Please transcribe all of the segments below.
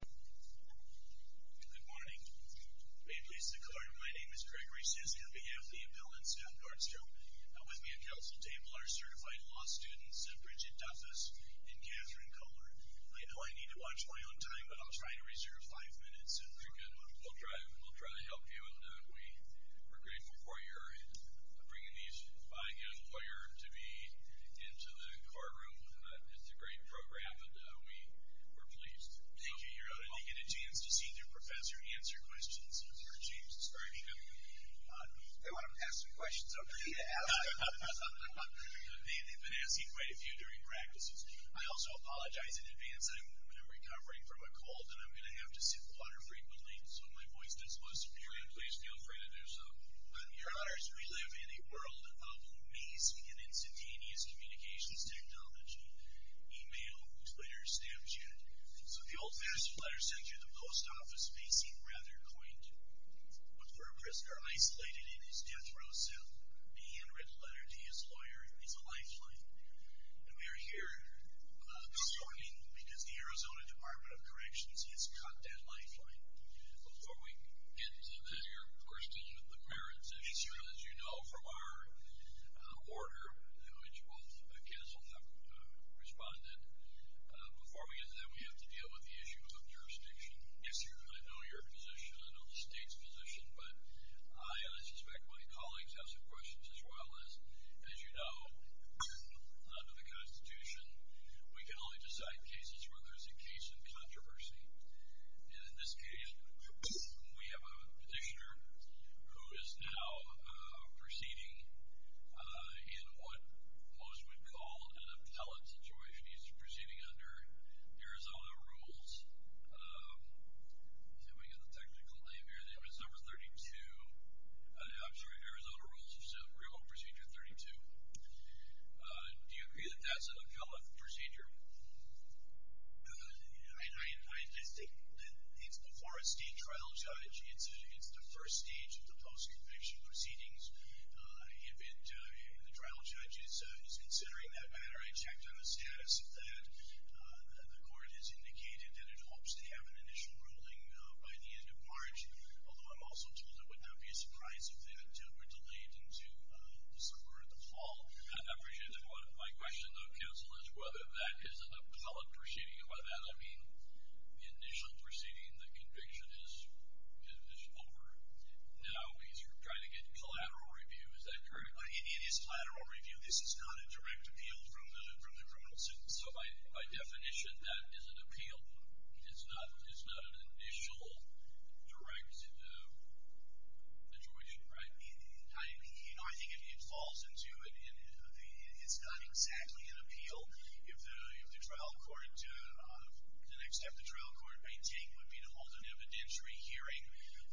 Good morning. May it please the Court, my name is Gregory Siskin, on behalf of the Appeal and Staff Nordstrom. With me at council table are certified law students Bridget Duffus and Kathryn Kohler. I know I need to watch my own time, but I'll try to reserve five minutes. Very good. We'll try to help you. We're grateful for your bringing these, buying a lawyer to be into the courtroom. It's a great program. We're pleased. Thank you, Your Honor. You get a chance to see the professor answer questions. I've heard James describing them. They want him to ask some questions, don't they? They've been asking quite a few during practices. I also apologize in advance. I'm recovering from a cold, and I'm going to have to sip water frequently, so my voice does not appear good. Please feel free to do so. Your Honors, we live in a world of amazing and instantaneous communications technology. Email, Twitter, Snapchat. So the old-fashioned letter sent you to the post office may seem rather quaint. But for a prisoner isolated in his death row cell, being in a written letter to his lawyer is a lifeline. And we are here this morning because the Arizona Department of Corrections has cut that lifeline. Before we get to that, we're still in the merits issue, as you know, from our order, which both counsel have responded. Before we get to that, we have to deal with the issue of jurisdiction. Yes, Your Honor. I know your position. I know the state's position. But I suspect my colleagues have some questions as well. As you know, under the Constitution, we can only decide cases where there's a case in controversy. And in this case, we have a petitioner who is now proceeding in what most would call an appellate situation. He's proceeding under Arizona rules. Let me get the technical name here. It was number 32. I'm sorry, Arizona rules. Procedure 32. Do you agree that that's an appellate procedure? I think it's before a state trial judge. It's the first stage of the post-conviction proceedings. If the trial judge is considering that matter, I checked on the status of that. The court has indicated that it hopes to have an initial ruling by the end of March, although I'm also told it would not be a surprise if that were delayed into December or the fall. I appreciate that. My question, though, counsel, is whether that is an appellate proceeding. By that, I mean the initial proceeding, the conviction is over. Now he's trying to get collateral review. Is that correct? It is collateral review. This is not a direct appeal from the criminal suit. So by definition, that is an appeal. It's not an initial direct adjoiction, right? You know, I think it falls into it. It's not exactly an appeal. If the trial court, the next step the trial court may take would be to hold an evidentiary hearing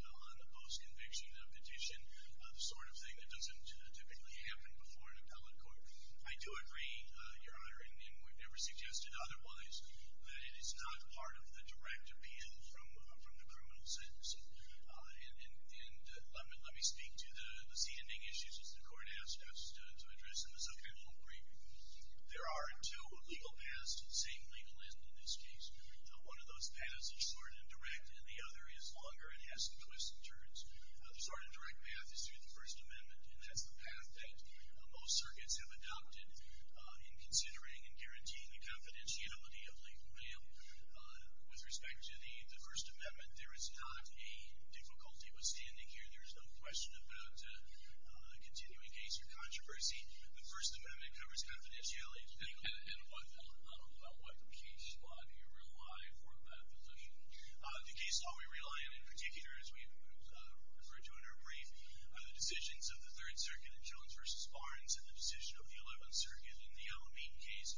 on the post-conviction petition, the sort of thing that doesn't typically happen before an appellate court. I do agree, Your Honor, and would never suggest it otherwise, that it is not part of the direct appeal from the criminal sentence. And let me speak to the z-ending issues, as the court asked us to address in the subcriminal brief. There are two legal paths, same legal end in this case. One of those paths is short and direct, and the other is longer and has some twists and turns. The short and direct path is through the First Amendment, and that's the path that most circuits have adopted in considering and guaranteeing the confidentiality of legal bail. With respect to the First Amendment, there is not a difficulty with standing here. There is no question about a continuing case or controversy. The First Amendment covers confidentiality, and what case law do you rely for that position? The case law we rely on in particular, as we've referred to in our brief, are the decisions of the Third Circuit in Jones v. Barnes and the decision of the Eleventh Circuit in the Alameda case,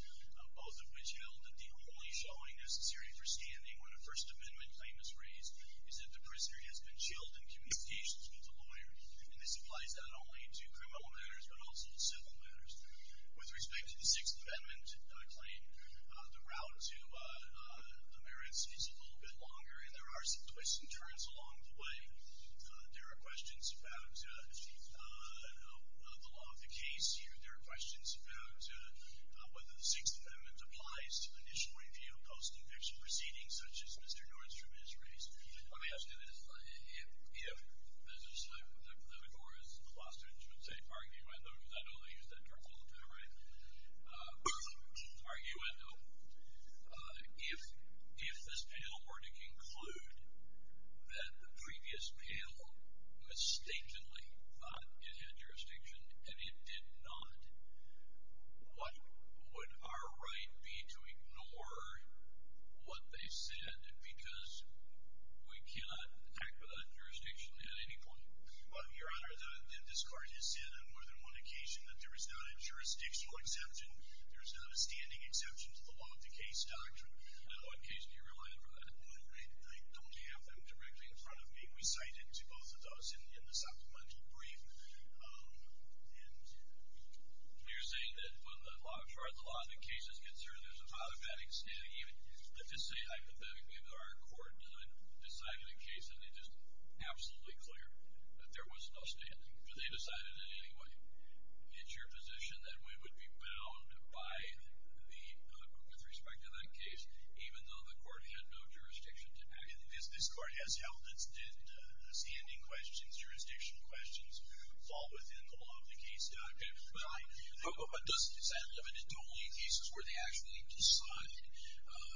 both of which held that the only showing necessary for standing when a First Amendment claim is raised is that the prisoner has been chilled in communication with the lawyer. And this applies not only to criminal matters but also to civil matters. With respect to the Sixth Amendment claim, the route to the merits is a little bit longer, and there are some twists and turns along the way. There are questions about the law of the case here. There are questions about whether the Sixth Amendment applies to initial review of post-invention proceedings, such as Mr. Norton's from his race. Let me ask you this. If, as the decorous law students would say, Margie Wendell, because I know they use that term all the time, right? Margie Wendell, if this panel were to conclude that the previous panel mistakenly thought it had jurisdiction and it did not, what would our right be to ignore what they said? Because we cannot act without jurisdiction at any point. Your Honor, this Court has said on more than one occasion that there is not a jurisdictional exception, there is not a standing exception to the law of the case doctrine. Now, what case do you rely on for that? I don't have them directly in front of me. We cite into both of those in the supplemental brief. You're saying that when the law of the case is concerned, there's an automatic standing, even to say hypothetically that our Court decided a case and it is absolutely clear that there was no standing, but they decided it anyway. Is your position that we would be bound by the, with respect to that case, even though the Court had no jurisdiction to act? Because this Court has held that standing questions, jurisdictional questions fall within the law of the case doctrine. But does that limit it to only cases where they actually decided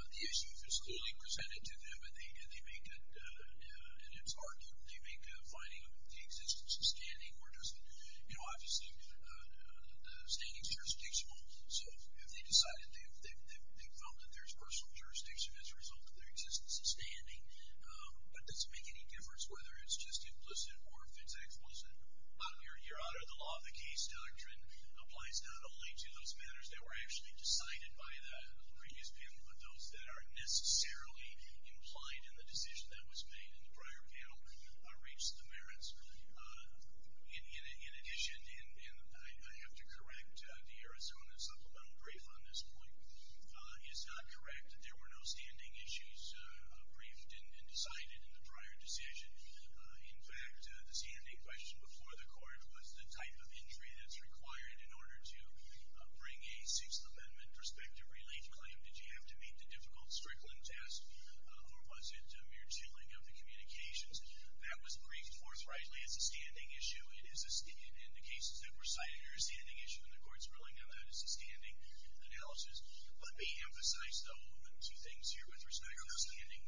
the issue is clearly presented to them and they make that, in its argument, they make a finding of the existence of standing, or does it, you know, obviously the standing is jurisdictional, so if they decided they found that there's personal jurisdiction as a result of their existence of standing, but does it make any difference whether it's just implicit or if it's explicit? Your Honor, the law of the case doctrine applies not only to those matters that were actually decided by the previous panel, but those that are necessarily implied in the decision that was made in the prior panel reached the merits. In addition, and I have to correct the Arizona supplemental brief on this point, is not correct. There were no standing issues briefed and decided in the prior decision. In fact, the standing question before the Court was the type of injury that's required in order to bring a Sixth Amendment prospective relief claim. Did you have to meet the difficult Strickland test, or was it a mere tooling of the communications? That was briefed forthrightly as a standing issue, and the cases that were cited are a standing issue, and the Court's ruling on that is a standing analysis. Let me emphasize, though, two things here with respect to standing.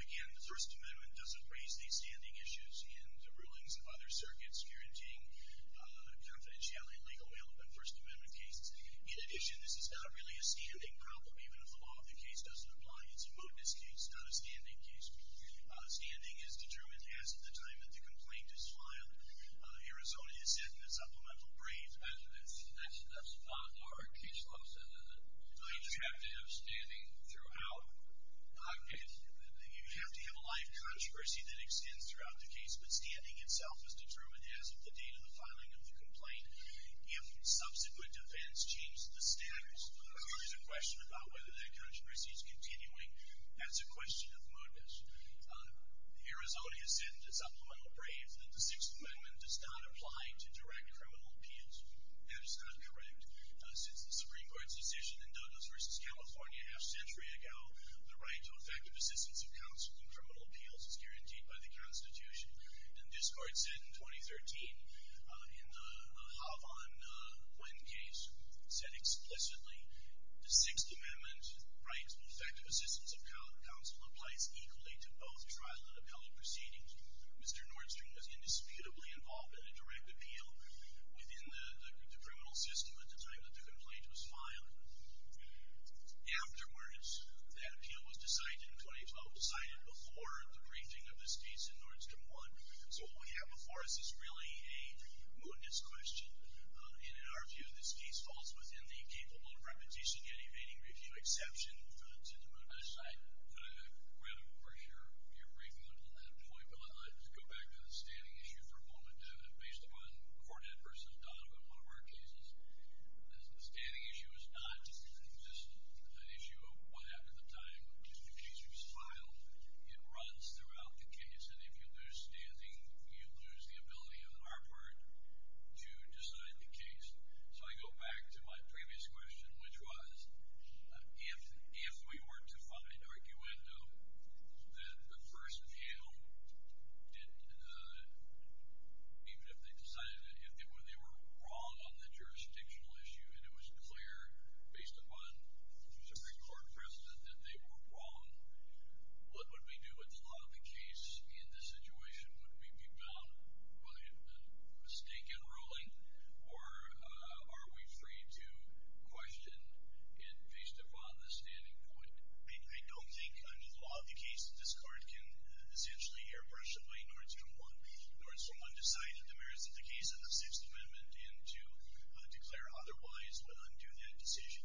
Again, the First Amendment doesn't raise these standing issues in the rulings of other circuits guaranteeing confidentiality, legal mail, and First Amendment cases. In addition, this is not really a standing problem. Even if the law of the case doesn't apply, it's a modus case, not a standing case. Standing is determined as of the time that the complaint is filed. Arizona is setting a supplemental brief. That's not part of case law, is it? You have to have standing throughout? You have to have a live controversy that extends throughout the case, but standing itself is determined as of the date of the filing of the complaint. If subsequent events change the status, there is a question about whether that controversy is continuing. That's a question of modus. Arizona has set a supplemental brief that the Sixth Amendment does not apply to direct criminal appeals. That is not correct. Since the Supreme Court's decision in Douglas v. California a half-century ago, the right to effective assistance of counsel in criminal appeals is guaranteed by the Constitution. And this Court said in 2013, in the Havan Nguyen case, said explicitly, the Sixth Amendment right to effective assistance of counsel applies equally to both trial and appellate proceedings. Mr. Nordstrom was indisputably involved in a direct appeal within the criminal system at the time that the complaint was filed. Afterwards, that appeal was decided in 2012, decided before the briefing of the states in Nordstrom 1. So what we have before us is really a modus question. In our view, this case falls within the capable of repetition and evading review exception to the modus. Could I grab it over here? Your briefing on that point, but I'd like to go back to the standing issue for a moment. Based upon the court adverse of Donovan, one of our cases, the standing issue is not just an issue of what happened at the time. The case was filed. It runs throughout the case. And if you lose standing, you lose the ability on our part to decide the case. So I go back to my previous question, which was, if we were to find arguendo that the first panel didn't, even if they decided they were wrong on the jurisdictional issue and it was clear based upon the Supreme Court precedent that they were wrong, what would we do? Would the law of the case in this situation, would we be bound by a mistake in ruling, or are we free to question it based upon the standing point? I don't think under the law of the case, this court can essentially airbrush away Nordstrom 1. Nordstrom 1 decided the merits of the case in the Sixth Amendment and to declare otherwise would undo that decision.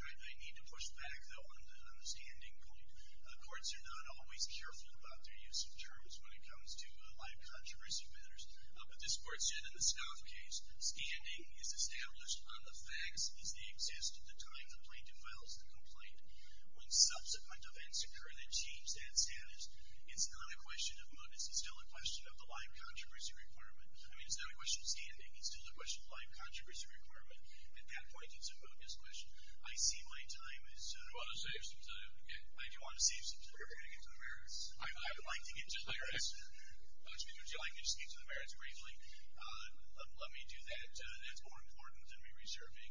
I need to push back, though, on the standing point. Courts are not always careful about their use of terms when it comes to live controversy matters. But this court said in the Snuff case, standing is established on the facts as they exist at the time the plaintiff files the complaint. When subsequent events occur that change that status, it's not a question of mootness. It's still a question of the live controversy requirement. I mean, it's not a question of standing. It's still a question of live controversy requirement. At that point, it's a mootness question. I see my time is up. I do want to save some time. I do want to save some time before I get to the merits. I would like to get to the merits. Would you like me to speak to the merits briefly? Let me do that. That's more important than me reserving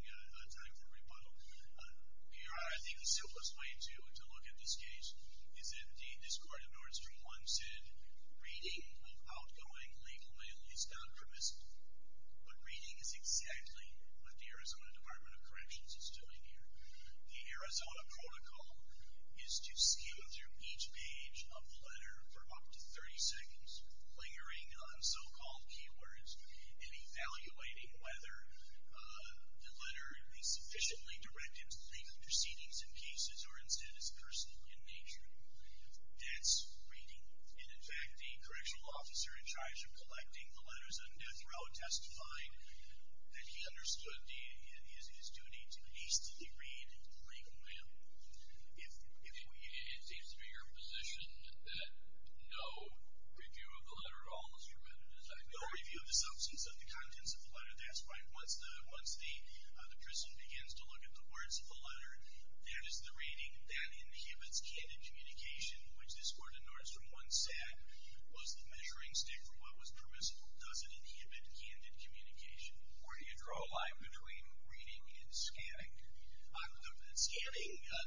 time for rebuttal. I think the simplest way to look at this case is that indeed this court of Nordstrom 1 said reading of outgoing legal mail is not permissible. But reading is exactly what the Arizona Department of Corrections is doing here. The Arizona protocol is to scan through each page of the letter for up to 30 seconds, lingering on so-called keywords and evaluating whether the letter is sufficiently directed to legal proceedings in cases or instead is personal in nature. That's reading. And in fact, the correctional officer in charge of collecting the letters on death row testified that he understood his duty to hastily read legal mail. It seems to be your position that no review of the letter at all was permitted, is that correct? No review of the substance of the contents of the letter. That's right. Once the person begins to look at the words of the letter, that is the reading. That inhibits candid communication, which this court of Nordstrom 1 said was the measuring stick for what was permissible. Does it inhibit candid communication? Or do you draw a line between reading and scanning? Scanning, the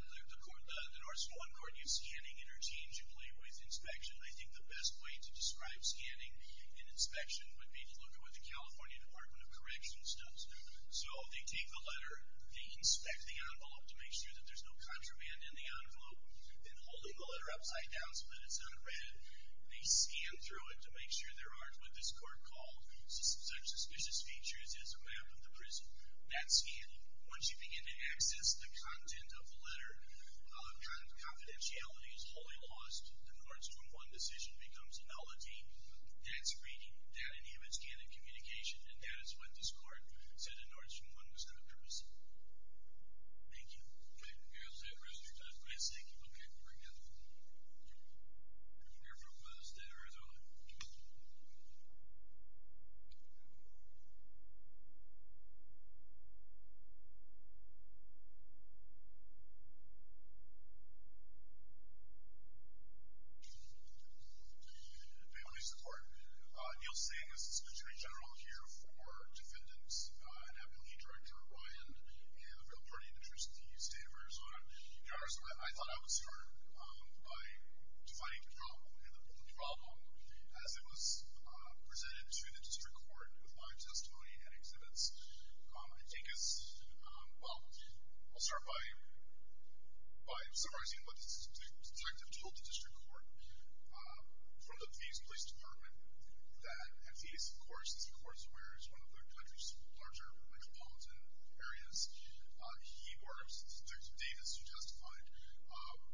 Nordstrom 1 court used scanning interchangeably with inspection. I think the best way to describe scanning and inspection would be to look at what the California Department of Corrections does. So they take the letter, they inspect the envelope to make sure that there's no contraband in the envelope, and holding the letter upside down so that it's unread, they scan through it to make sure there aren't what this court called such suspicious features as a map of the prison. That's scanning. Once you begin to access the content of the letter, confidentiality is wholly lost. The Nordstrom 1 decision becomes nullity. That's reading. That inhibits candid communication, and that is what this court said in Nordstrom 1 was not permissible. Thank you. Okay. Is that restrictive? Yes, thank you. Okay. I'll bring in the leader from the state of Arizona. Family support. Neil Singh is the Attorney General here for defendants. I have with me Director Ryan and a real party in the state of Arizona. I thought I would start by defining the problem. The problem, as it was presented to the district court with my testimony and exhibits, I think is, well, I'll start by summarizing what the detective told the district court from the Phoenix Police Department that in Phoenix, of course, the district court is one of the country's larger metropolitan areas. He works, Detective Davis, who testified,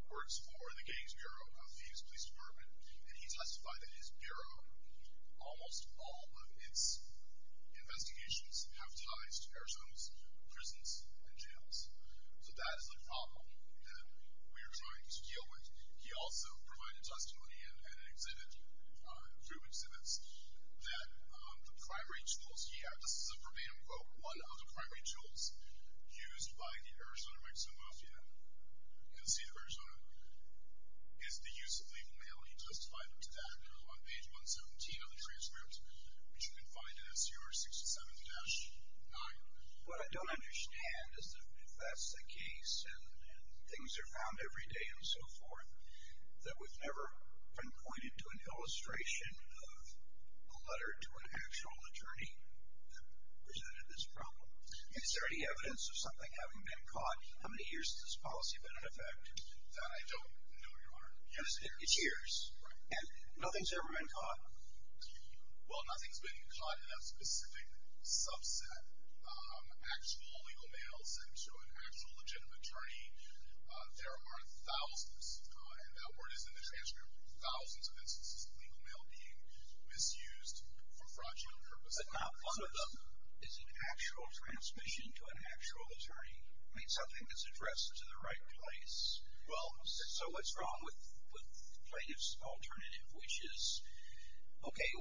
works for the gangs bureau of the Phoenix Police Department, and he testified that his bureau, almost all of its investigations have ties to air zones, prisons, and jails. So that is the problem that we are trying to deal with. He also provided testimony in an exhibit, group exhibits, that the primary tools he had, this is a verbatim quote, one of the primary tools used by the Arizona Mexican Mafia. You can see that Arizona is the use of legal mail. He testified to that on page 117 of the transcript, which you can find in SUR 67-9. What I don't understand is if that's the case, and things are found every day and so forth, that we've never been pointed to an illustration of a letter to an actual attorney that presented this problem. Is there any evidence of something having been caught? How many years has this policy been in effect? That I don't know, Your Honor. It's years. Right. And nothing's ever been caught? Well, nothing's been caught in that specific subset. Actual legal mail sent to an actual legitimate attorney, there are thousands, and that word is in the transcript, thousands of instances of legal mail being misused for fraudulent purposes. But not one of them is an actual transmission to an actual attorney. I mean, something that's addressed to the right place. Well, so what's wrong with plaintiff's alternative, which is, okay,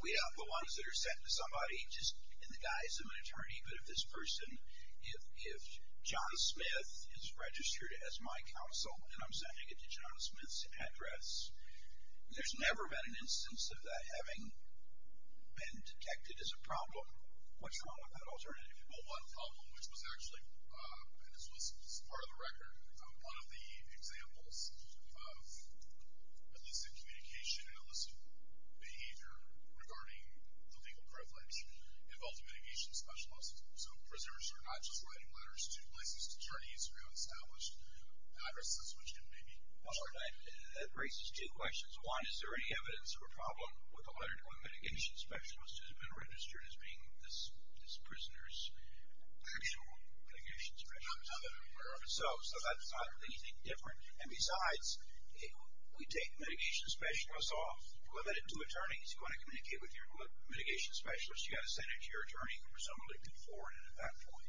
we have the ones that are sent to somebody just in the guise of an attorney, but if this person, if John Smith is registered as my counsel, and I'm sending it to John Smith's address, there's never been an instance of that having been detected as a problem. What's wrong with that alternative? Well, one problem, which was actually, and this was part of the record, one of the examples of illicit communication and illicit behavior regarding the legal privilege involved a mitigation specialist. So prisoners are not just writing letters to licensed attorneys who have established addresses which can be used. Well, that raises two questions. One, is there any evidence of a problem with a letter to a mitigation specialist who has been registered as being this prisoner's actual mitigation specialist? No, there aren't. So that's not anything different. And besides, we take mitigation specialists off, limit it to attorneys. You want to communicate with your mitigation specialist, you've got to send it to your attorney who presumably can forward it at that point.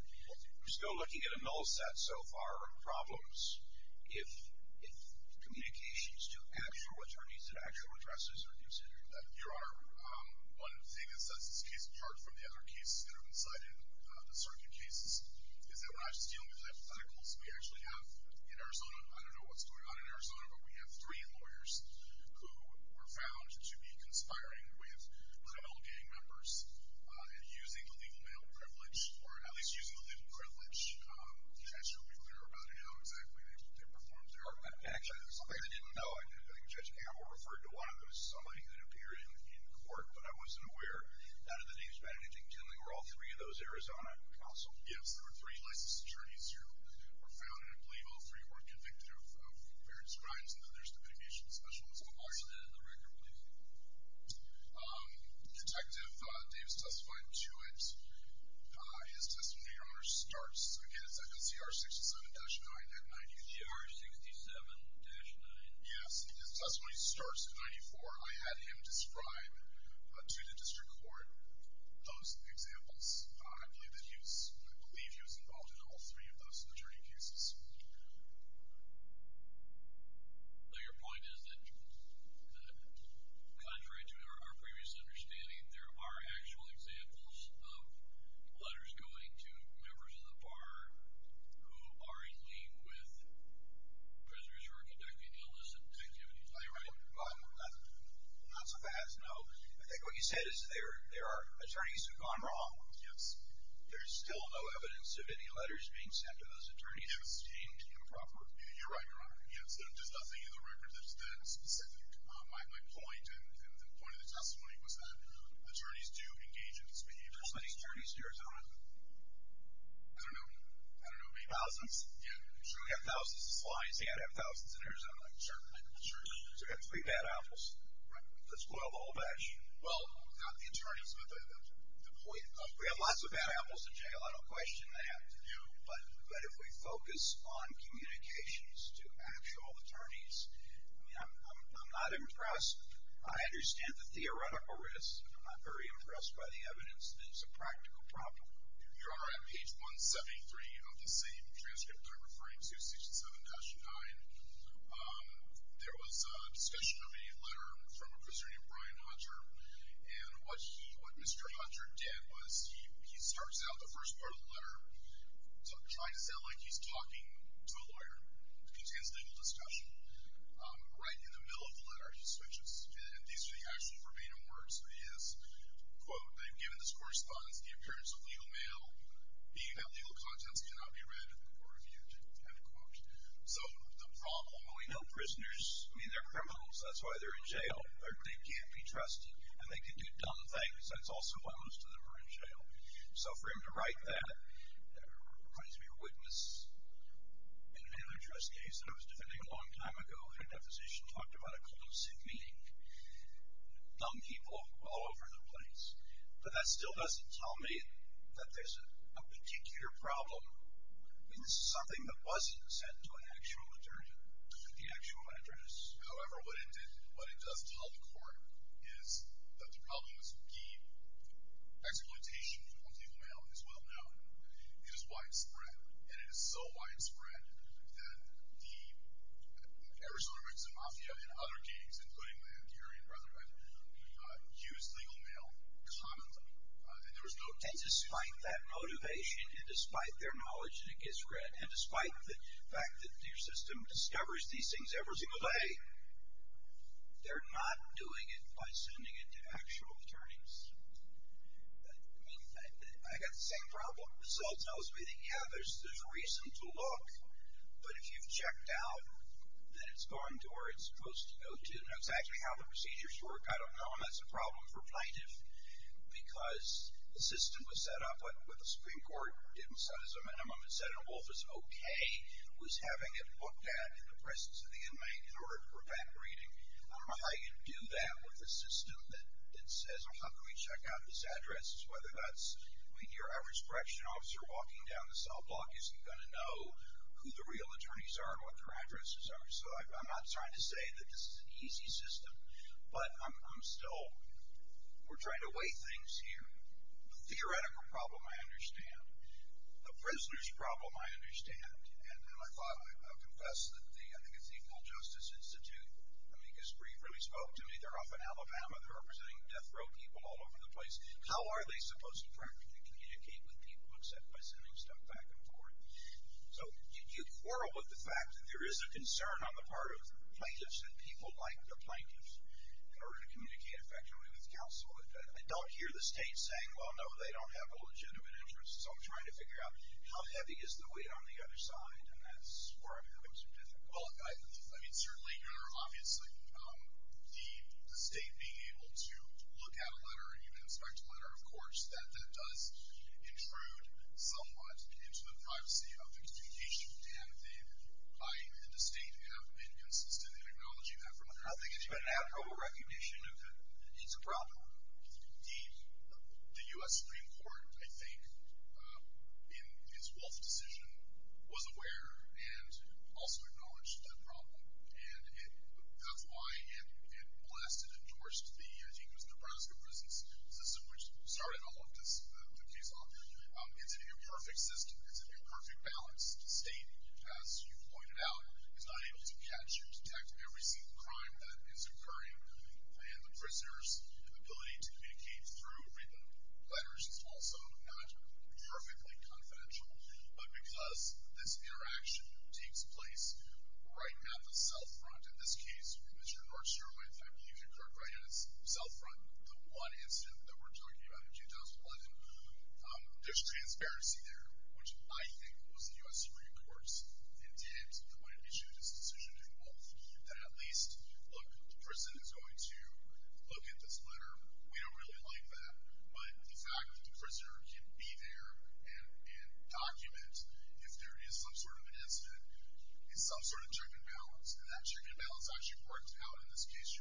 We're still looking at a null set so far of problems. If communications to actual attorneys at actual addresses are considered. Your Honor, one thing that sets this case apart from the other cases that have been cited, the circuit cases, is that we're not just dealing with hypotheticals. We actually have in Arizona, I don't know what's going on in Arizona, but we have three lawyers who were found to be conspiring with criminal gang members in using illegal male privilege, or at least using illegal privilege. I'm not sure we're clear about how exactly they performed their actions. I didn't know. I think Judge Hammer referred to one of those as somebody who had appeared in court, but I wasn't aware that the names Matt and Dick Kinley were all three of those Arizona counsels. Yes, there were three licensed attorneys who were found, and I believe all three were convicted of various crimes, and then there's the mitigation specialist involved. Detective Davis testified to it. His testimony, Your Honor, starts, again, it's FNCR 67-9 at 94. CR 67-9. Yes, his testimony starts at 94. I had him describe to the district court those examples. I believe he was involved in all three of those attorney cases. Your point is that contrary to our previous understanding, there are actual examples of letters going to members of the bar who are in lien with prisoners who are conducting illicit activities. Are you right? Not so fast, no. I think what you said is there are attorneys who have gone wrong. Yes. There's still no evidence of any letters being sent to those attorneys. Any evidence being improper? You're right, Your Honor. Yes, there's nothing in the records that's that specific. My point and the point of the testimony was that attorneys do engage in this behavior. How many attorneys do you have in Arizona? I don't know. I don't know. Maybe thousands? Yeah. I'm sure we have thousands of clients, and we have thousands in Arizona. I'm sure we do. So we have three bad apples. Right. Let's boil the whole batch. Well, not the attorneys, but the employees. We have lots of bad apples in jail. I don't question that. But if we focus on communications to actual attorneys, I mean, I'm not impressed. I understand the theoretical risk. I'm not very impressed by the evidence that it's a practical problem. Your Honor, on page 173 of the same transcript I'm referring to, 67-9, there was a discussion of a letter from a person named Brian Hunter, and what Mr. Hunter did was he starts out the first part of the letter trying to sound like he's talking to a lawyer. It's a consensual discussion. Right in the middle of the letter he switches, and these are the actual verbatim words. He is, quote, they've given this correspondence, the appearance of legal mail, email legal contents cannot be read or reviewed, end quote. So the problem, we know prisoners, I mean, they're criminals. That's why they're in jail. They can't be trusted, and they can do dumb things, and it's also why most of them are in jail. So for him to write that reminds me of a witness in an address case that I was defending a long time ago, and that physician talked about a collusive meeting, dumb people all over the place. But that still doesn't tell me that there's a particular problem in something that wasn't sent to an actual attorney at the actual address. However, what it did, what it does tell the court, is that the problem is key. Exploitation of legal mail is well known. It is widespread, and it is so widespread that the Arizona Mexican Mafia and other gangs, including the Antiorean Brotherhood, use legal mail commonly, and there is no doubt about that. And despite that motivation, and despite their knowledge that it gets read, and despite the fact that their system discovers these things every single day, they're not doing it by sending it to actual attorneys. I mean, I got the same problem with results. I was reading, yeah, there's reason to look, but if you've checked out that it's gone to where it's supposed to go to, and that's actually how the procedures work. I don't know, and that's a problem for a plaintiff, because the system was set up with a Supreme Court, didn't set it as a minimum, and said a wolf is okay, but he was having it looked at in the presence of the inmate in order to prevent reading. I can do that with a system that says, well, how can we check out this address? Whether that's your Irish correction officer walking down the sidewalk isn't going to know who the real attorneys are and what their addresses are. So I'm not trying to say that this is an easy system, but I'm still, we're trying to weigh things here. The theoretical problem I understand. The prisoner's problem I understand. And I thought, I'll confess that the, I think it's the Equal Justice Institute, Amicus Brief really spoke to me. They're off in Alabama. They're representing death row people all over the place. How are they supposed to practically communicate with people except by sending stuff back and forth? So you quarrel with the fact that there is a concern on the part of plaintiffs that people like the plaintiffs in order to communicate effectively with counsel. I don't hear the state saying, well, no, they don't have a legitimate interest. So I'm trying to figure out how heavy is the weight on the other side, and that's where I'm having some difficulty. Well, I mean, certainly, you know, obviously the state being able to look at a letter and even inspect a letter, of course, that does intrude somewhat into the privacy of the communication. And the state have been consistent in acknowledging that from the front. And I think it's been an ad hoc recognition that it's a problem. Indeed, the U.S. Supreme Court, I think, in its Wolf decision, was aware and also acknowledged that problem. And that's why it blasted and torched the, I think it was Nebraska prisons, which started all of this, the case off there. It's an imperfect system. It's an imperfect balance. The state, as you pointed out, is not able to catch or detect every single crime that is occurring. And the prisoner's ability to communicate through written letters is also not perfectly confidential. But because this interaction takes place right at the south front, in this case, Mr. Nordstrom, I think you concurred right at its south front, the one incident that we're talking about in 2011. There's transparency there, which I think was the U.S. Supreme Court's intent when it issued its decision in Wolf, that at least, look, the prison is going to look at this letter. We don't really like that. But the fact that the prisoner can be there and document if there is some sort of an incident is some sort of check and balance. And that check and balance actually works out in this case,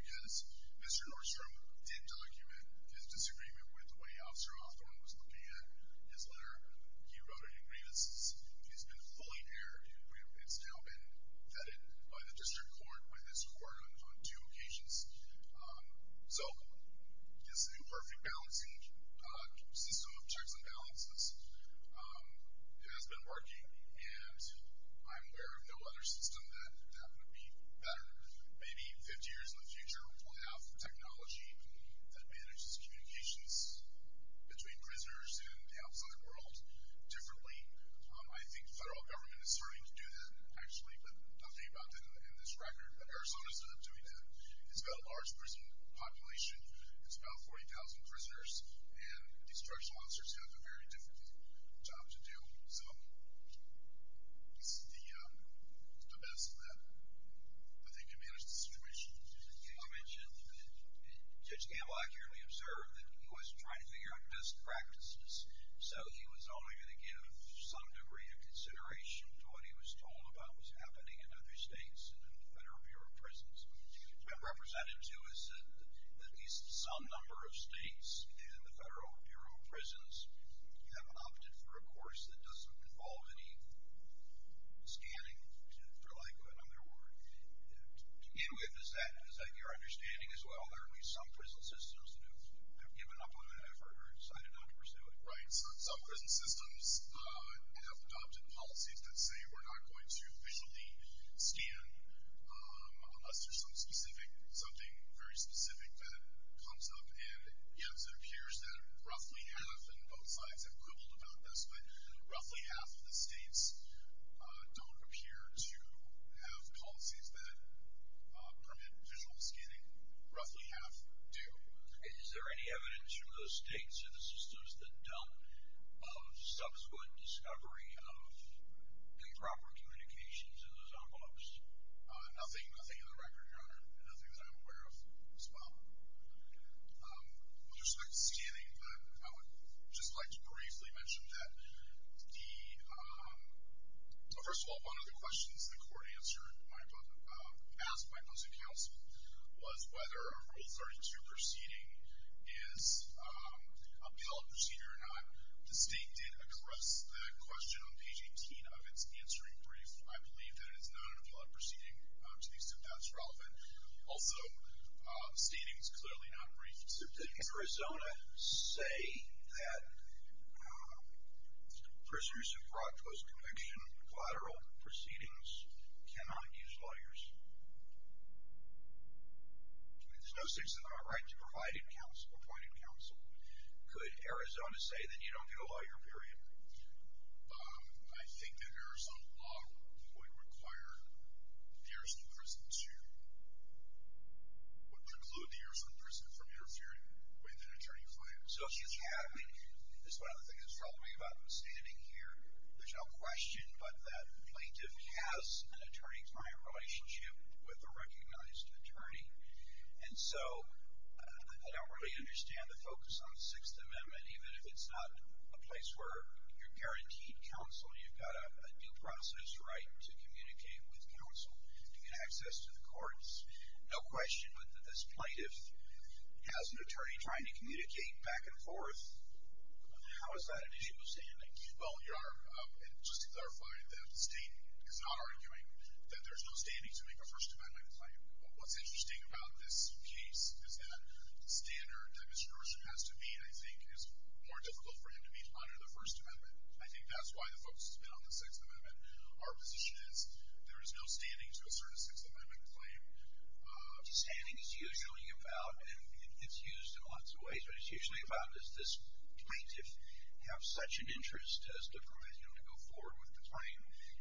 because Mr. Nordstrom didn't document his disagreement with the way Officer Hawthorne was looking at his letter. He wrote an agreement. It's been fully aired. It's now been vetted by the district court, by this court, on two occasions. So this new perfect balancing system of checks and balances has been working, and I'm aware of no other system that would happen to be better. Maybe 50 years in the future, we'll have technology that manages communications between prisoners and the outside world differently. I think the federal government is starting to do that, actually, but nothing about that in this record. But Arizona started doing that. It's got a large prison population. It's about 40,000 prisoners, and these drug sponsors have a very difficult job to do. So it's the best that they can manage the situation. I mentioned that Judge Campbell accurately observed that he was trying to figure out best practices, so he was only going to give some degree of consideration to what he was told about was happening in other states and in the Federal Bureau of Prisons. I represent him, too, as at least some number of states in the Federal Bureau of Prisons have opted for a course that doesn't involve any scanning, for lack of another word. To begin with, is that your understanding as well? There are at least some prison systems that have given up on that or decided not to pursue it. Right. Some prison systems have adopted policies that say we're not going to visually scan unless there's something very specific that comes up, and, yes, it appears that roughly half, and both sides have quibbled about this, but roughly half of the states don't appear to have policies that permit visual scanning. Roughly half do. Is there any evidence from those states or the systems that don't of subsequent discovery of improper communications in those envelopes? Nothing, nothing on the record, Your Honor, and nothing that I'm aware of as well. With respect to scanning, I would just like to briefly mention that the ‑‑ well, first of all, one of the questions the court asked my opposite counsel was whether a Rule 32 proceeding is a appellate proceeding or not. The state did address that question on page 18 of its answering brief. I believe that it is not an appellate proceeding to the extent that's relevant. Also, the state is clearly not briefed. Mr. Bishop, did Arizona say that prisoners of fraud, post‑conviction, collateral proceedings cannot use lawyers? I mean, there's no states that have a right to provide counsel, appoint counsel. Could Arizona say that you don't get a lawyer period? I think that Arizona law would require the Arizona prison to preclude the Arizona prison from interfering with an attorney's lawyer. So she's having ‑‑ this is one of the things that's troubling me about her standing here. There's no question, but that plaintiff has an attorney-client relationship with a recognized attorney. And so I don't really understand the focus on the Sixth Amendment, even if it's not a place where you're guaranteed counsel and you've got a due process right to communicate with counsel, to get access to the courts. No question, but this plaintiff has an attorney trying to communicate back and forth. How is that an issue of standing? Well, Your Honor, just to clarify, the state is not arguing that there's no standing to make a First Amendment claim. What's interesting about this case is that standard demonstration has to be, and I think is more difficult for him to be, under the First Amendment. I think that's why the focus has been on the Sixth Amendment. Our position is there is no standing to assert a Sixth Amendment claim because standing is usually about, and it's used in lots of ways, but it's usually about does this plaintiff have such an interest as to permit him to go forward with the claim.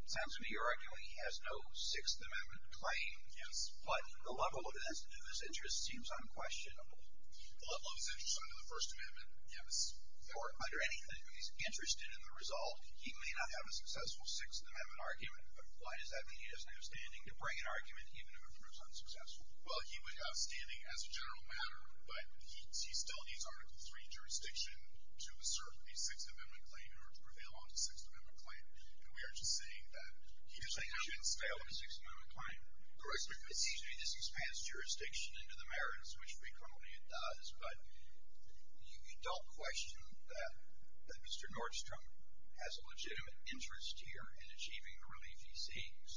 It sounds to me arguably he has no Sixth Amendment claim, but the level of his interest seems unquestionable. The level of his interest under the First Amendment, or under anything that he's interested in the result, he may not have a successful Sixth Amendment argument, but why does that mean he doesn't have standing to bring an argument even if it proves unsuccessful? Well, he would have standing as a general matter, but he still needs Article III jurisdiction to assert a Sixth Amendment claim or to prevail on a Sixth Amendment claim, and we aren't just saying that he should fail on a Sixth Amendment claim. Correct me if I'm wrong. It seems to me this expands jurisdiction into the merits, which frequently it does, but you don't question that Mr. Nordstrom has a legitimate interest here in achieving the relief he seeks.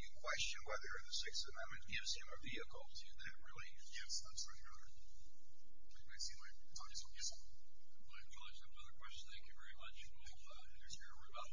You question whether the Sixth Amendment gives him a vehicle to that relief. Yes, I'm sorry, Your Honor. I think I see my time is up. Yes, sir. Thank you very much. I have no other questions. Thank you very much. We'll hear from Mr. Roboto. My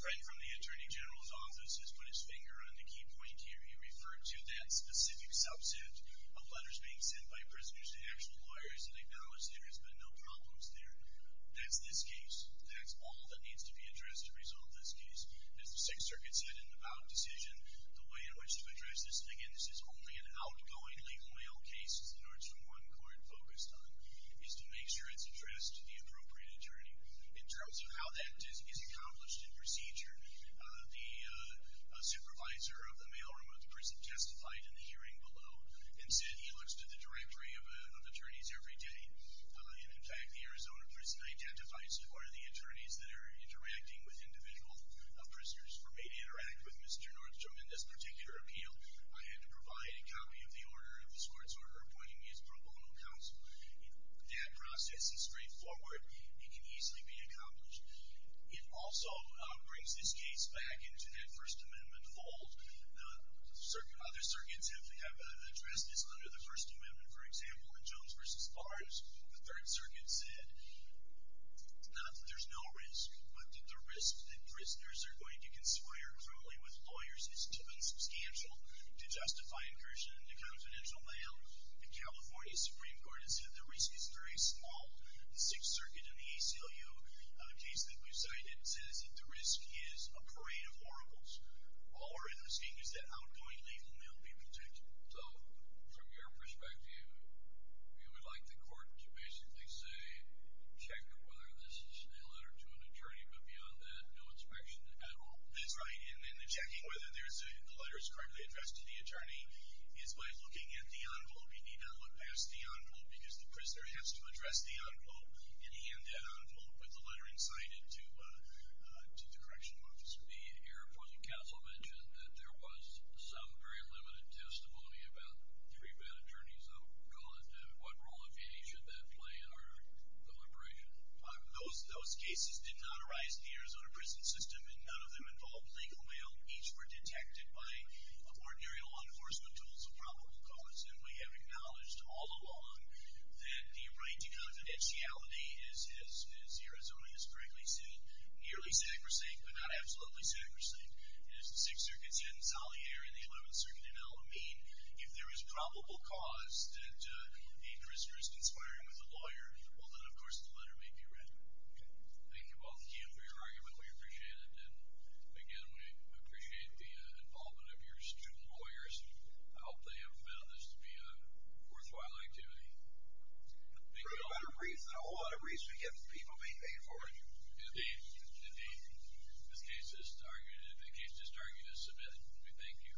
friend from the Attorney General's office has put his finger on the key point here. He referred to that specific subset of letters being sent by prisoners to actual lawyers that acknowledge there has been no problems there. That's this case. That's all that needs to be addressed to resolve this case. As the Sixth Circuit said in the Bout decision, the way in which to address this thing, and this is only an outgoing legal mail case, as the Nordstrom one court focused on, is to make sure it's addressed to the appropriate attorney. In terms of how that is accomplished in procedure, the supervisor of the mailroom of the prison testified in the hearing below and said he looks to the directory of attorneys every day. In fact, the Arizona prison identifies who are the attorneys that are interacting with individual prisoners for me to interact with Mr. Nordstrom in this particular appeal. I had to provide a copy of this court's order appointing me as pro bono counsel. That process is straightforward. It can easily be accomplished. It also brings this case back into that First Amendment fold. Other circuits have addressed this under the First Amendment. For example, in Jones v. Barnes, the Third Circuit said not that there's no risk, but that the risk that prisoners are going to conspire cruelly with lawyers is too substantial to justify incursion into confidential mail. The California Supreme Court has said the risk is very small. The Sixth Circuit in the ACLU case that we've cited says that the risk is a parade of oracles. All we're interesting is that outgoing lethal mail be protected. So from your perspective, you would like the court to basically say check whether this is a letter to an attorney, but beyond that, no inspection at all? That's right. And then the checking whether the letter is correctly addressed to the attorney is by looking at the envelope. Because the prisoner has to address the envelope and hand that envelope with the letter and sign it to the correctional office. The Air Force Counsel mentioned that there was some very limited testimony about three bad attorneys. What role, if any, should that play in our deliberation? Those cases did not arise in the Arizona prison system, and none of them involved lethal mail. Each were detected by ordinary law enforcement tools of probable cause. And we have acknowledged all along that the right to confidentiality is, as Arizona has correctly said, nearly sacrosanct but not absolutely sacrosanct. As the Sixth Circuit said in Salier and the Eleventh Circuit in Alameda, if there is probable cause that a prisoner is conspiring with a lawyer, well then, of course, the letter may be read. Thank you both again for your argument. We appreciate it. And, again, we appreciate the involvement of your student lawyers. I hope they have found this to be a worthwhile activity. For a better reason. A whole lot of reason to get people being paid for it. Indeed. Indeed. This case is targeted. The case is targeted as submitted. We thank you.